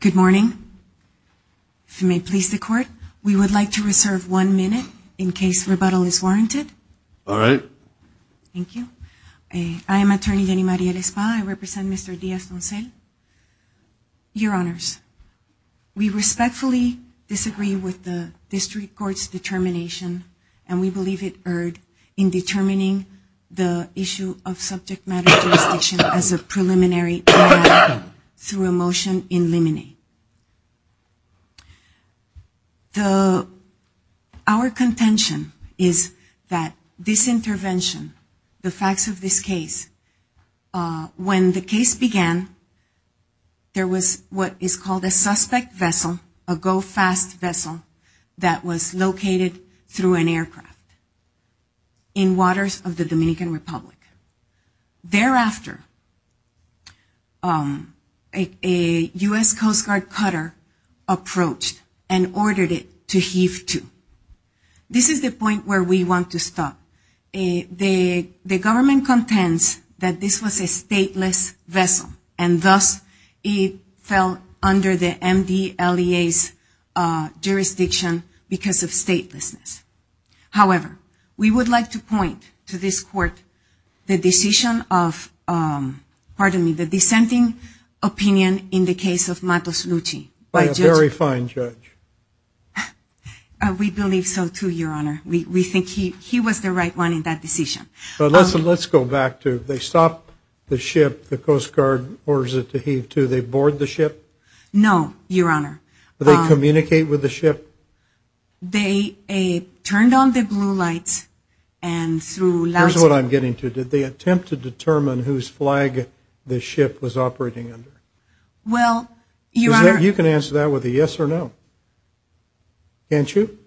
Good morning. If you may please the court, we would like to reserve one minute in case rebuttal is warranted. All right. Thank you. I am attorney Jenny Mariel Espa. I represent with the District Court's determination and we believe it erred in determining the issue of subject matter jurisdiction as a preliminary matter through a motion in limine. Our contention is that this intervention, the facts of this case, when the case began, there was what we call a fast vessel that was located through an aircraft in waters of the Dominican Republic. Thereafter, a U.S. Coast Guard cutter approached and ordered it to heave to. This is the point where we want to stop. The government contends that this was a stateless vessel and thus it fell under the MDLEA's jurisdiction because of statelessness. However, we would like to point to this court the decision of, pardon me, the dissenting opinion in the case of Matos Luchi. By a very fine judge. We believe so too, your honor. We think he was the right one in that decision. But listen, let's go back to they stop the ship, the Coast Guard orders it to heave to. They board the ship? No, your honor. Do they communicate with the ship? They turned on the blue lights and through last... Here's what I'm getting to. Did they attempt to determine whose flag the ship was operating under? Well, your honor... You can answer that with a yes or no. Can't you?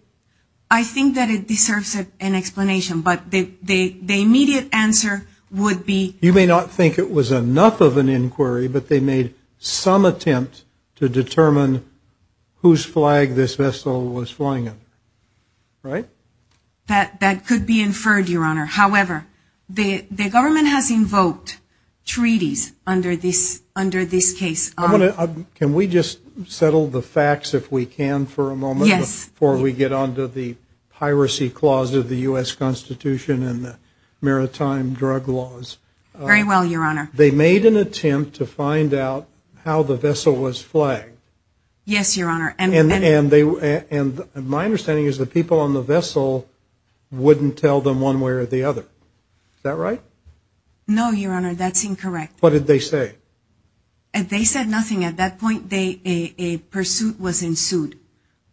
I think that it deserves an explanation, but the immediate answer would be... You may not think it was enough of an inquiry, but they made some attempt to determine whose flag this vessel was flying in. Right? That could be inferred, your honor. However, the government has invoked treaties under this case. Can we just settle the facts if we can for a moment before we get on to the piracy clauses of the U.S. Constitution and the maritime drug laws? Very well, your honor. They made an attempt to find out how the vessel was flagged. Yes, your honor. And my understanding is the people on the vessel wouldn't tell them one way or the other. Is that right? No, your honor. That's incorrect. What did they say? They said nothing. At that point, a pursuit was ensued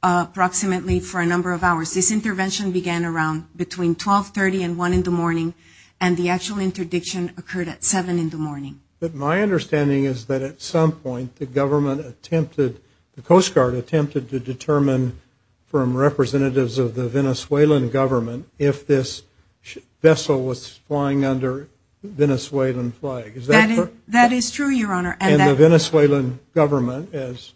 approximately for a number of hours. This intervention began around between 1230 and 1 in the morning, and the actual interdiction occurred at 7 in the morning. But my understanding is that at some point, the government attempted, the Coast Guard attempted to determine from representatives of the Venezuelan government if this vessel was flying under Venezuelan flag. Is that correct? That is true, your honor. And the Venezuelan government, as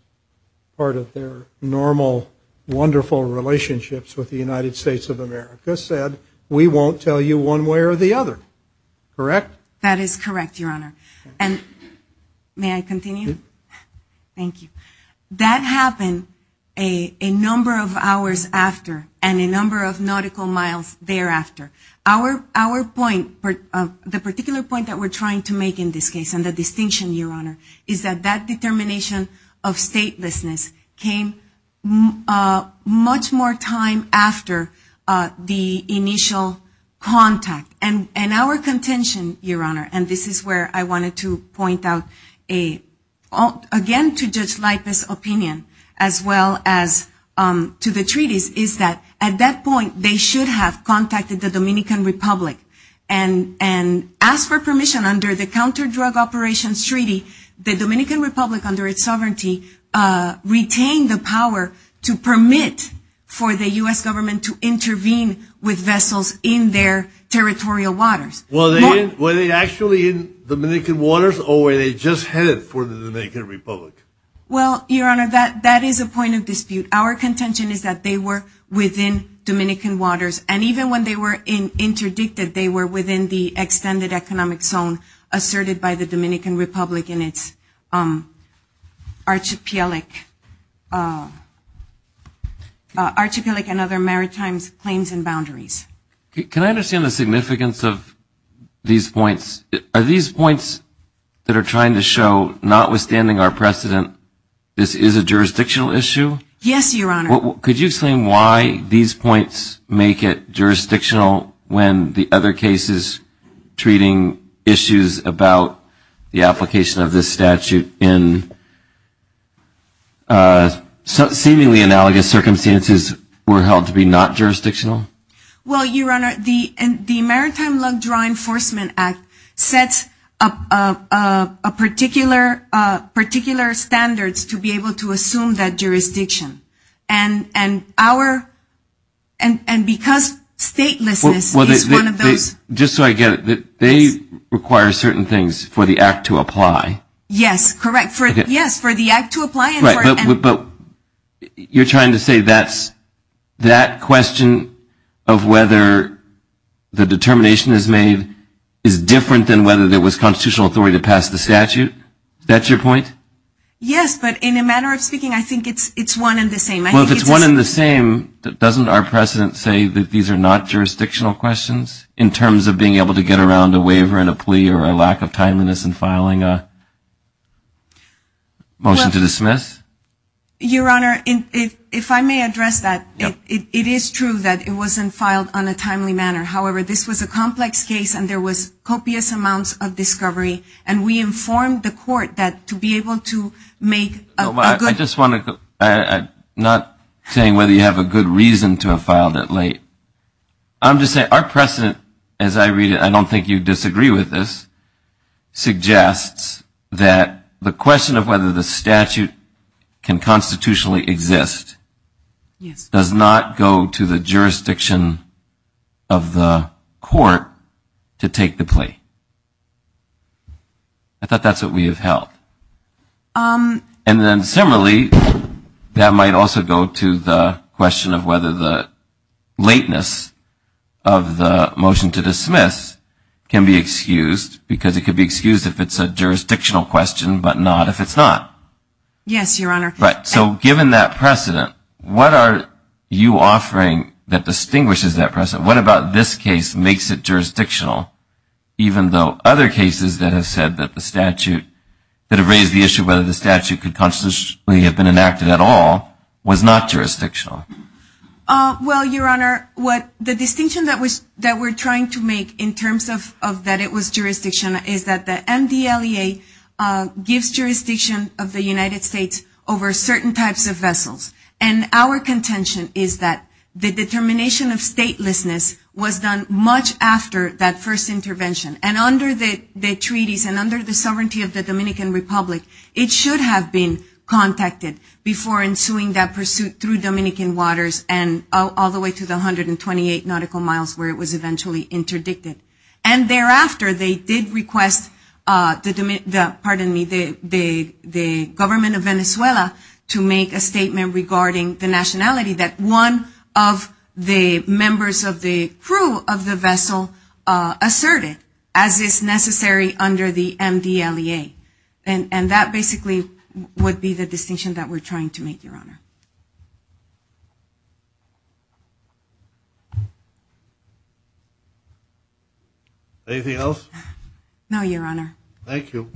part of their normal, wonderful relationships with the United States of America, said we won't tell you one way or the other. Correct? That is correct, your honor. And may I continue? Thank you. That happened a number of hours after and a number of nautical miles thereafter. Our point, the particular point that we're trying to make in this case, and the distinction, your honor, is that that determination of statelessness came much more time after the initial contact. And our contention, your honor, and this is where I wanted to point out again to Judge Lipa's opinion, as well as to the treaties, is that at that point, they should have contacted the Dominican Republic and asked for permission under the counter-drug operations treaty. The Dominican Republic, under its sovereignty, retained the power to permit for the U.S. government to intervene with vessels in their territorial waters. Were they actually in Dominican waters or were they just headed for the Dominican Republic? Well, your honor, that is a point of dispute. Our contention is that they were within Dominican waters. And even when they were interdicted, they were within the extended economic zone asserted by the Dominican Republic in its archipelagic and other maritime claims and boundaries. Can I understand the significance of these points? Are these points that are trying to show, notwithstanding our precedent, this is a jurisdictional issue? Yes, your honor. Could you explain why these points make it jurisdictional when the other cases treating issues about the application of this statute in seemingly analogous circumstances were held to be not jurisdictional? Well, your honor, the Maritime Drug Enforcement Act sets a particular standards to be able to assume that jurisdiction. And because statelessness is one of those... Just so I get it, they require certain things for the act to apply. Yes, correct. Yes, for the act to apply. Right, but you're trying to say that question of whether the determination is made is different than whether it was constitutional authority to pass the statute. Is that your point? Yes, but in a manner of speaking, I think it's one and the same. Well, if it's one and the same, doesn't our precedent say that these are not jurisdictional questions in terms of being able to get around a waiver and a plea or a lack of timeliness in filing a motion to dismiss? Your honor, if I may address that, it is true that it wasn't filed on a timely manner. However, this was a complex case and there was copious amounts of discovery, and we informed the court that to be able to make... I just want to... I'm not saying whether you have a good reason to have filed it late. I'm just saying our precedent, as I read it, I don't think you'd disagree with this, suggests that the question of whether the statute can constitutionally exist does not go to the plea. I thought that's what we have held. And then similarly, that might also go to the question of whether the lateness of the motion to dismiss can be excused, because it could be excused if it's a jurisdictional question, but not if it's not. Yes, your honor. But so given that precedent, what are you offering that distinguishes that precedent? What about this case makes it jurisdictional, even though other cases that have said that the statute, that have raised the issue whether the statute could constitutionally have been enacted at all, was not jurisdictional? Well, your honor, the distinction that we're trying to make in terms of that it was jurisdiction is that the MDLEA gives jurisdiction of the United States over certain types of vessels, and our contention is that the determination of statelessness was done much after that first intervention. And under the treaties and under the sovereignty of the Dominican Republic, it should have been contacted before ensuing that pursuit through Dominican waters and all the way to the 128 nautical miles where it was eventually interdicted. And thereafter, they did request, pardon me, the government of Venezuela to make a statement regarding the nationality that one of the members of the crew of the vessel asserted, as is necessary under the MDLEA. And that basically would be the distinction that we're trying to make, your honor. Anything else? No, your honor. Thank you.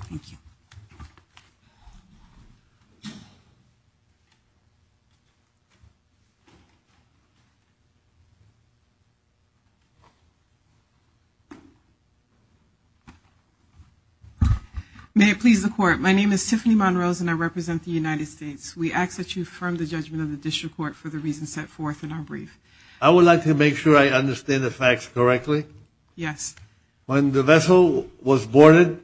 May it please the court. My name is Tiffany Monrose, and I represent the United States. We ask that you affirm the judgment of the district court for the reasons set forth in our brief. I would like to make sure I understand the facts correctly. Yes. When the vessel was boarded,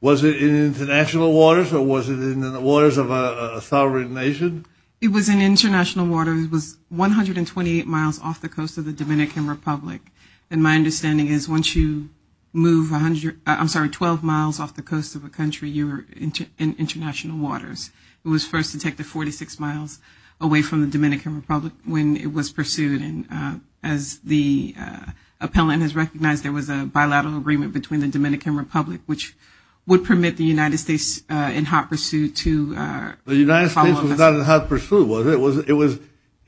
was it in international waters or was it in the waters of a sovereign And it was in the waters of a sovereign nation. It was in international waters. It was 128 miles off the coast of the Dominican Republic. And my understanding is once you move 100, I'm sorry, 12 miles off the coast of a country, you're in international waters. It was first detected 46 miles away from the Dominican Republic when it was pursued. And as the appellant has recognized, there was a bilateral agreement between the Dominican Republic, which would permit the United States in hot pursuit to The United States was not in hot pursuit, was it? It was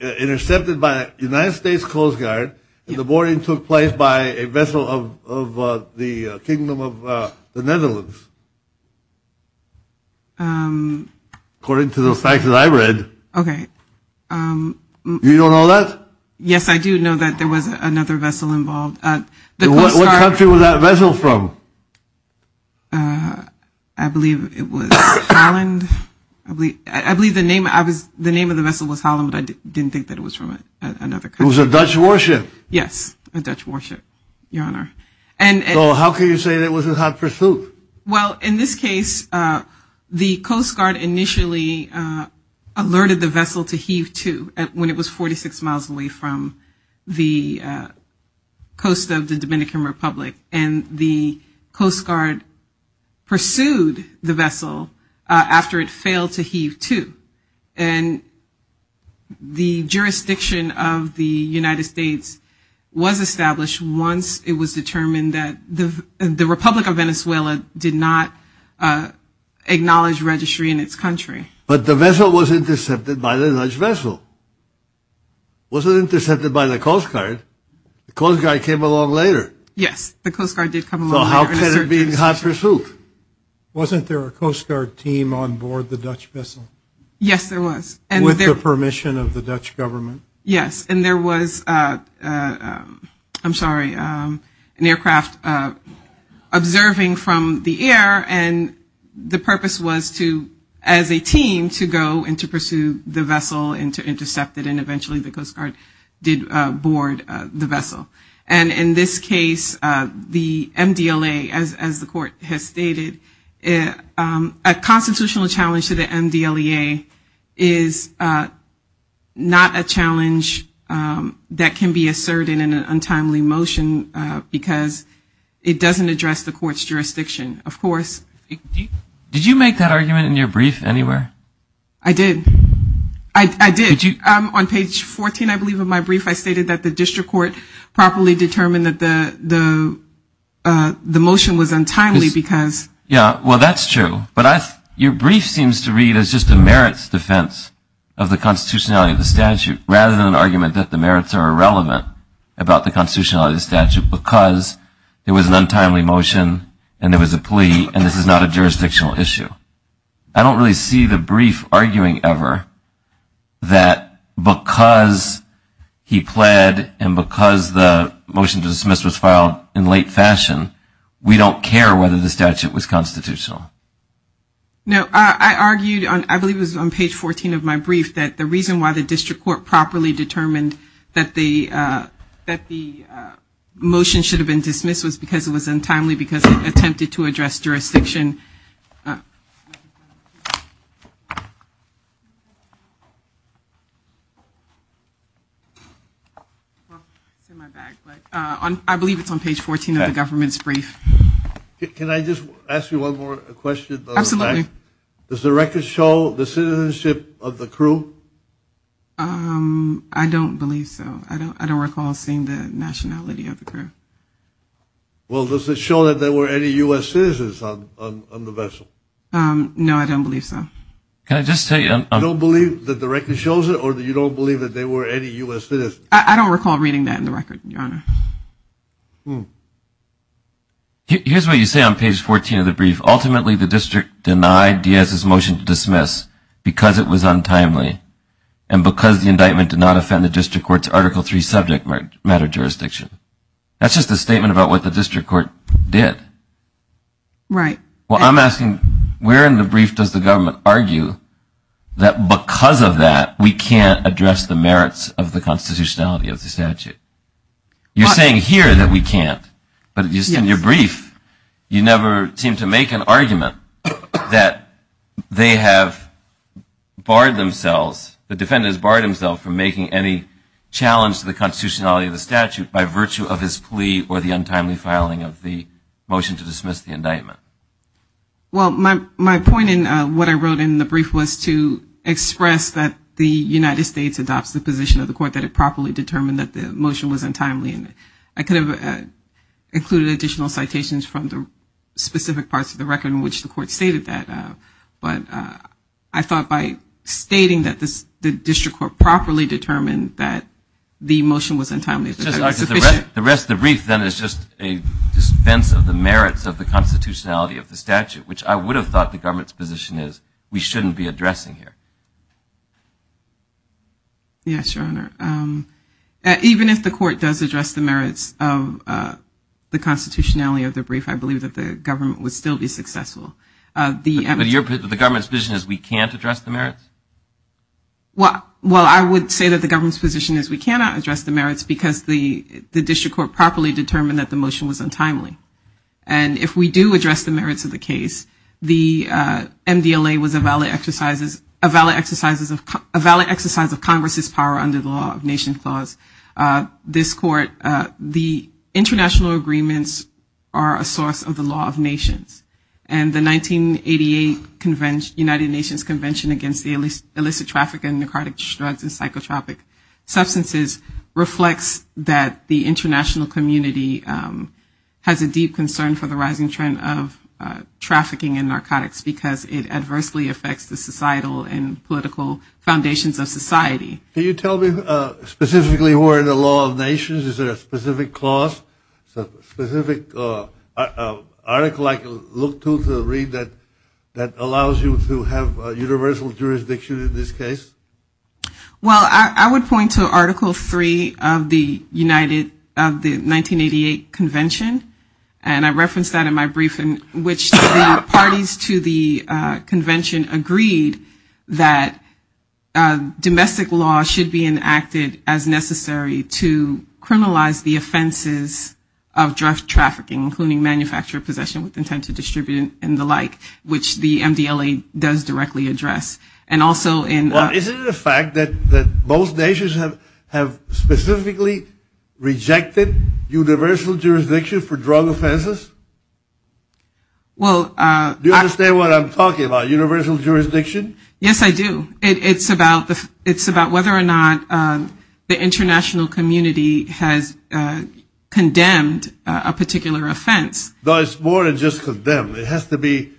intercepted by the United States Coast Guard and the boarding took place by a vessel of the Kingdom of the Netherlands. According to those facts that I read. Okay. You don't know that? Yes, I do know that there was another vessel involved. What country was that vessel from? I believe it was Holland. I believe I believe the name I was the name of the vessel was Holland, but I didn't think that it was from another country. It was a Dutch warship. Yes, a Dutch warship, Your Honor. And how can you say that was in hot pursuit? Well, in this case, the Coast Guard initially alerted the vessel to heave to when it was 46 miles away from the coast of the Dominican Republic and the Coast Guard pursued the vessel after it failed to heave to and the jurisdiction of the United States was established once it was determined that the Republic of Venezuela did not acknowledge registry in its country. But the vessel was intercepted by the Dutch vessel. Was it intercepted by the Coast Guard? The Coast Guard came along later. Yes, the Coast Guard did come along. So how can it be in hot pursuit? Wasn't there a Coast Guard team on board the Dutch vessel? Yes, there was. And with the permission of the Dutch government? Yes, and there was, I'm sorry, an aircraft observing from the air. And the purpose was to, as a team, to go and to pursue the vessel and to intercept it and eventually the Coast Guard did board the vessel. And in this case, the MDLA, as the court has stated, a constitutional challenge to the MDLEA is not a challenge that can be asserted in an untimely motion because it doesn't address the court's jurisdiction. Of course. Did you make that argument in your brief anywhere? I did. I did. Did you? On page 14, I believe, of my brief, I stated that the district court properly determined that the motion was untimely because. Yeah, well, that's true. But your brief seems to read as just a merits defense of the constitutionality of the statute rather than an argument that the merits are irrelevant about the constitutionality of the statute. I don't really see the brief arguing ever that because he pled and because the motion to dismiss was filed in late fashion, we don't care whether the statute was constitutional. No, I argued, I believe it was on page 14 of my brief, that the reason why the district court properly determined that the motion should have been dismissed was because it attempted to address jurisdiction. I believe it's on page 14 of the government's brief. Can I just ask you one more question? Absolutely. Does the record show the citizenship of the crew? I don't believe so. I don't recall seeing the nationality of the crew. Well, does it show that there were any U.S. citizens on the vessel? No, I don't believe so. Can I just tell you, I don't believe that the record shows it or that you don't believe that there were any U.S. citizens. I don't recall reading that in the record, your honor. Here's what you say on page 14 of the brief. Ultimately, the district denied Diaz's motion to dismiss because it was untimely and because the indictment did not offend the district court's article three subject matter jurisdiction. That's just a statement about what the district court did. Right. Well, I'm asking, where in the brief does the government argue that because of that, we can't address the merits of the constitutionality of the statute? You're saying here that we can't. But in your brief, you never seem to make an argument that they have barred themselves, the defendants barred themselves from making any challenge to the constitutionality of the statute by virtue of his plea or the untimely filing of the motion to dismiss the indictment. Well, my point in what I wrote in the brief was to express that the United States adopts the position of the court that it properly determined that the motion was untimely. And I could have included additional citations from the specific parts of the record in which the court stated that. But I thought by stating that the district court properly determined that the motion was untimely. The rest of the brief, then, is just a dispense of the merits of the constitutionality of the statute, which I would have thought the government's position is we shouldn't be addressing here. Yes, Your Honor. Even if the court does address the merits of the constitutionality of the brief, I believe that the government would still be successful. The government's position is we can't address the merits? Well, I would say that the government's position is we cannot address the merits because the district court properly determined that the motion was untimely. And if we do address the merits of the case, the MDLA was a valid exercise of Congress's power under the Law of Nations Clause. This court, the international agreements are a source of the Law of Nations. And the 1988 United Nations Convention against the illicit traffic and narcotic drugs and that the international community has a deep concern for the rising trend of trafficking and narcotics because it adversely affects the societal and political foundations of society. Can you tell me specifically who are in the Law of Nations? Is there a specific clause, specific article I can look to to read that allows you to have universal jurisdiction in this case? Well, I would point to Article 3 of the 1988 Convention. And I referenced that in my briefing, which the parties to the convention agreed that domestic law should be enacted as necessary to criminalize the offenses of drug trafficking, including manufactured possession with intent to distribute and the like, which the MDLA does directly address. And also in the fact that most nations have have specifically rejected universal jurisdiction for drug offenses. Well, do you understand what I'm talking about? Universal jurisdiction? Yes, I do. It's about the it's about whether or not the international community has condemned a particular offense. Though it's more than just condemned. It has to be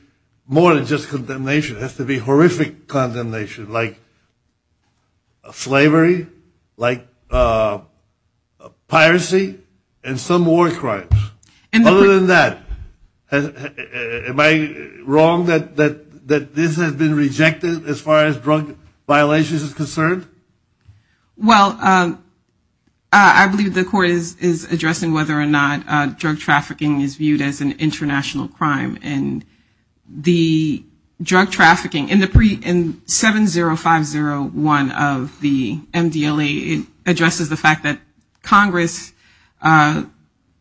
more than just condemnation. It has to be horrific condemnation like slavery, like piracy, and some war crimes. Other than that, am I wrong that this has been rejected as far as drug violations is concerned? Well, I believe the court is addressing whether or not drug trafficking is viewed as an international crime. And the drug trafficking in the pre in 70501 of the MDLA addresses the fact that Congress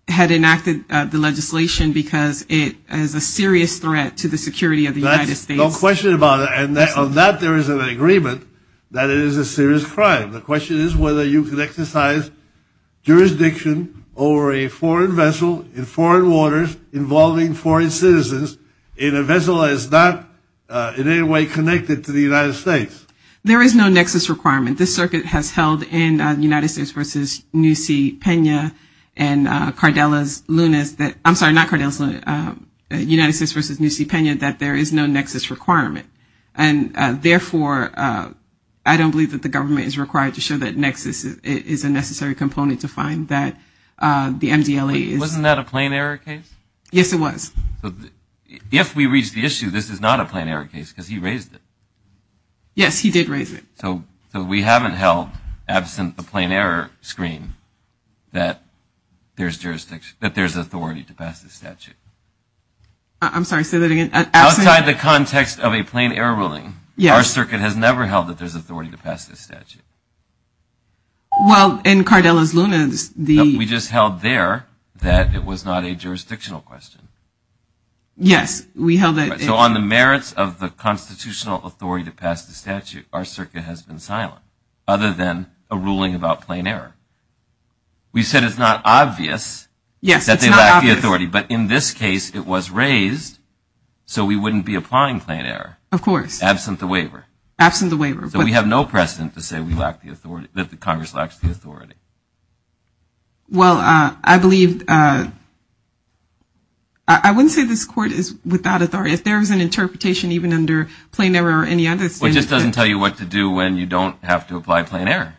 had enacted the legislation because it is a serious threat to the security of the United States. No question about it. And on that there is an agreement that it is a serious crime. The question is whether you can exercise jurisdiction over a foreign vessel in foreign waters involving foreign citizens in a vessel that is not in any way connected to the United States. There is no nexus requirement. This circuit has held in the United States versus New C. Pena and Cardellas Lunas that I'm sorry, not Cardellas Lunas, United States versus New C. Pena that there is no nexus requirement. And therefore, I don't believe that the government is required to show that nexus is a necessary component to find that the MDLA. Wasn't that a plane error case? Yes, it was. If we reach the issue, this is not a plane error case because he raised it. Yes, he did raise it. So we haven't held absent the plane error screen that there's jurisdiction that there's authority to pass the statute. I'm sorry, say that again. Outside the context of a plane error ruling, our circuit has never held that there's authority to pass this statute. Well, in Cardellas Lunas, the. We just held there that it was not a jurisdictional question. Yes, we held it. So on the merits of the constitutional authority to pass the statute, our circuit has been silent other than a ruling about plane error. We said it's not obvious that they lack the authority, but in this case, it was raised so we wouldn't be applying plane error. Of course. Absent the waiver. Absent the waiver. So we have no precedent to say we lack the authority that the Congress lacks the authority. Well, I believe. I wouldn't say this court is without authority. If there is an interpretation, even under plane error or any other. It just doesn't tell you what to do when you don't have to apply plane error.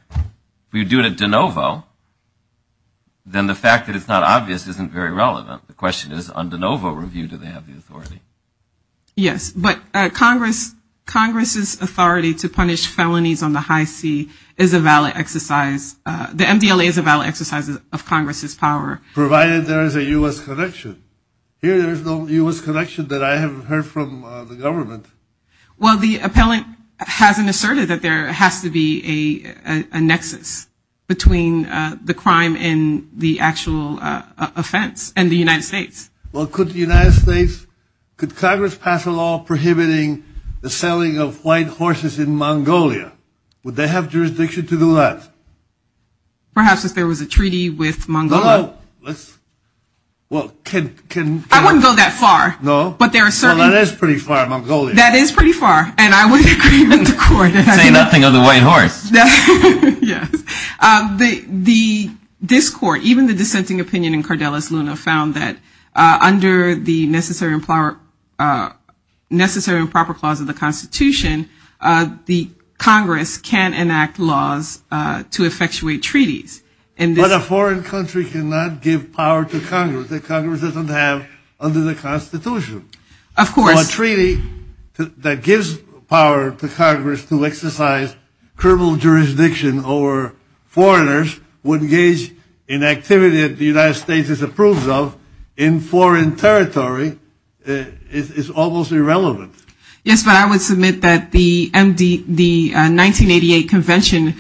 We do it at DeNovo. Then the fact that it's not obvious isn't very relevant. The question is on DeNovo review, do they have the authority? Yes, but Congress, Congress's authority to punish felonies on the high sea is a valid exercise. The MDLA is a valid exercise of Congress's power. Provided there is a U.S. connection. Here there is no U.S. connection that I have heard from the government. Well, the appellant hasn't asserted that there has to be a nexus between the crime and the actual offense and the United States. Well, could the United States, could Congress pass a law prohibiting the selling of white horses in Mongolia? Would they have jurisdiction to do that? Perhaps if there was a treaty with Mongolia. Well, I wouldn't go that far. No, but that is pretty far, Mongolia. That is pretty far. And I would agree with the court. Say nothing of the white horse. The, this court, even the dissenting opinion in Cardellus Luna found that under the necessary and proper, necessary and proper clause of the constitution, the Congress can enact laws to effectuate treaties. But a foreign country cannot give power to Congress that Congress doesn't have under the constitution. Of course. A treaty that gives power to Congress to exercise criminal jurisdiction over foreigners would engage in activity that the United States is approved of in foreign territory is almost irrelevant. Yes, but I would submit that the MD, the 1988 convention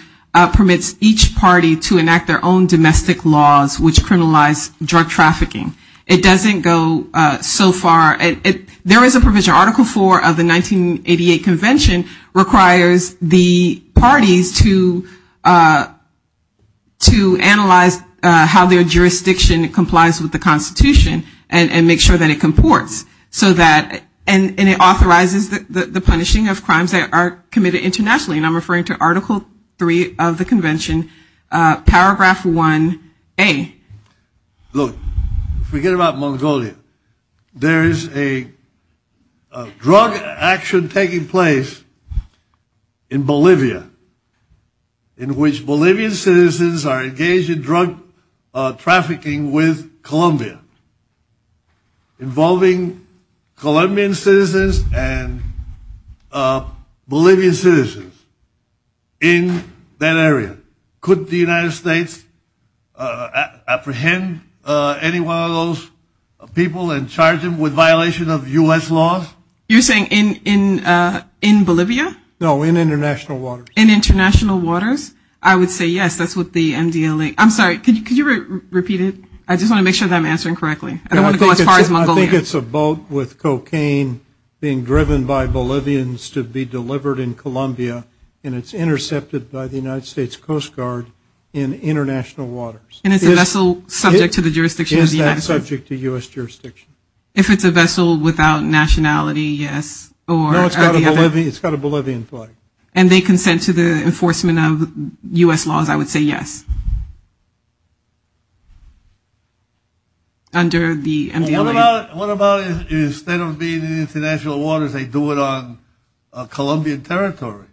permits each party to enact their own domestic laws, which criminalize drug trafficking. It doesn't go so far. There is a provision, article four of the 1988 convention requires the parties to, to analyze how their jurisdiction complies with the constitution and make sure that it comports so that, and it authorizes the, the, the punishing of crimes that are committed internationally. And I'm referring to article three of the convention, paragraph one, A. Look, forget about Mongolia. There is a drug action taking place in Bolivia in which Bolivian citizens are engaged in Colombian citizens and Bolivian citizens in that area. Could the United States apprehend any one of those people and charge them with violation of US laws? You're saying in, in, in Bolivia? No, in international waters. In international waters? I would say yes, that's what the MDLA, I'm sorry, could you, could you repeat it? I just want to make sure that I'm answering correctly. I don't want to go as far as Mongolia. I think it's a boat with cocaine being driven by Bolivians to be delivered in Colombia and it's intercepted by the United States Coast Guard in international waters. And it's a vessel subject to the jurisdiction of the United States. Is that subject to US jurisdiction? If it's a vessel without nationality, yes. No, it's got a Bolivian, it's got a Bolivian flag. And they consent to the enforcement of US laws, I would say yes. Under the MDLA. What about, what about instead of being in international waters, they do it on Colombian territory?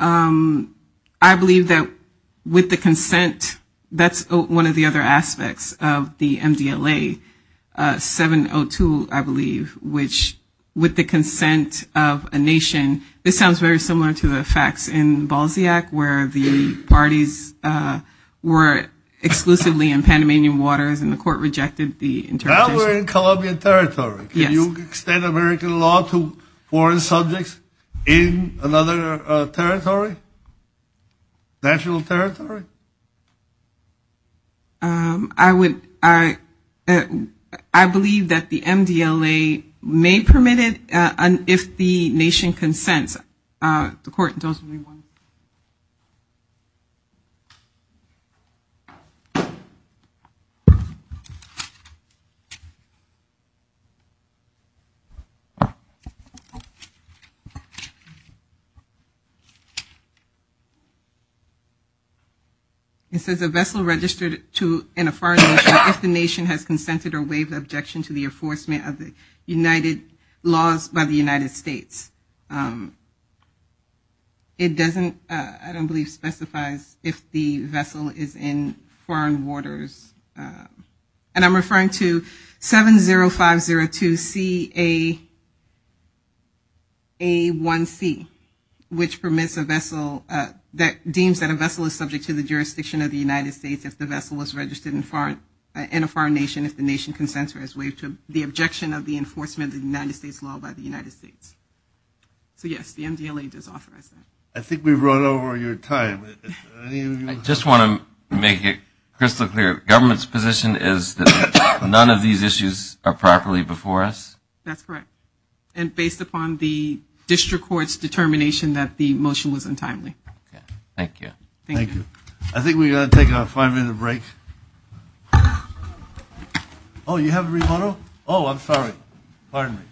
I believe that with the consent, that's one of the other aspects of the MDLA 702, I believe, which with the consent of a nation, this sounds very similar to the facts in Balziac, where the parties were exclusively in Panamanian waters and the court rejected the interpretation. Now we're in Colombian territory. Can you extend American law to foreign subjects in another territory? National territory? I would, I believe that the MDLA may permit it if the nation consents. The court doesn't, anyone? It says a vessel registered to an affirmation if the nation has consented or waived objection to the enforcement of the United laws by the United States. It doesn't, I don't believe specifies if the vessel is in foreign waters. And I'm referring to 70502CA1C, which permits a vessel that deems that a vessel is subject to the jurisdiction of the United States if the vessel was registered in a foreign nation if the nation consents or has waived the objection of the enforcement of the United States law by the United States. So yes, the MDLA does authorize that. I think we've run over your time. I just want to make it crystal clear. Government's position is that none of these issues are properly before us? That's correct. And based upon the district court's determination that the motion was untimely. Thank you. Thank you. I think we've got to take a five-minute break. Oh, you have a remoto? Oh, I'm sorry. Pardon me.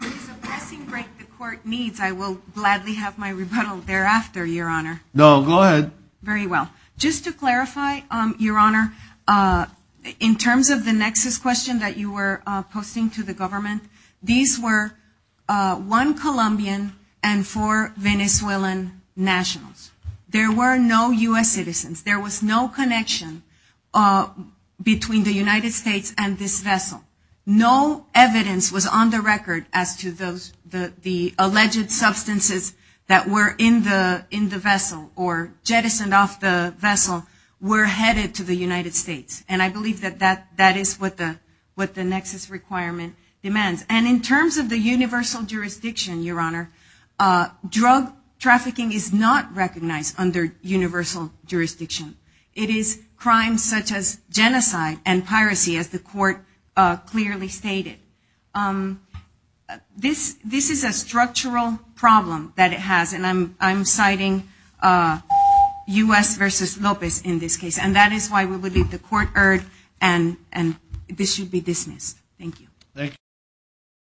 If it's a passing break the court needs, I will gladly have my rebuttal thereafter, Your Honor. No, go ahead. Very well. Just to clarify, Your Honor, in terms of the nexus question that you were posting to the government, these were one Colombian and four Venezuelan nationals. There were no U.S. citizens. There was no connection between the United States and this vessel. No evidence was on the record as to the alleged substances that were in the vessel or jettisoned off the vessel were headed to the United States. And I believe that that is what the nexus requirement demands. And in terms of the universal jurisdiction, Your Honor, drug trafficking is not recognized under universal jurisdiction. It is crimes such as genocide and piracy, as the court clearly stated. This is a structural problem that it has. And I'm citing U.S. versus Lopez in this case. And that is why we believe the court erred and this should be dismissed. Thank you. Thank you.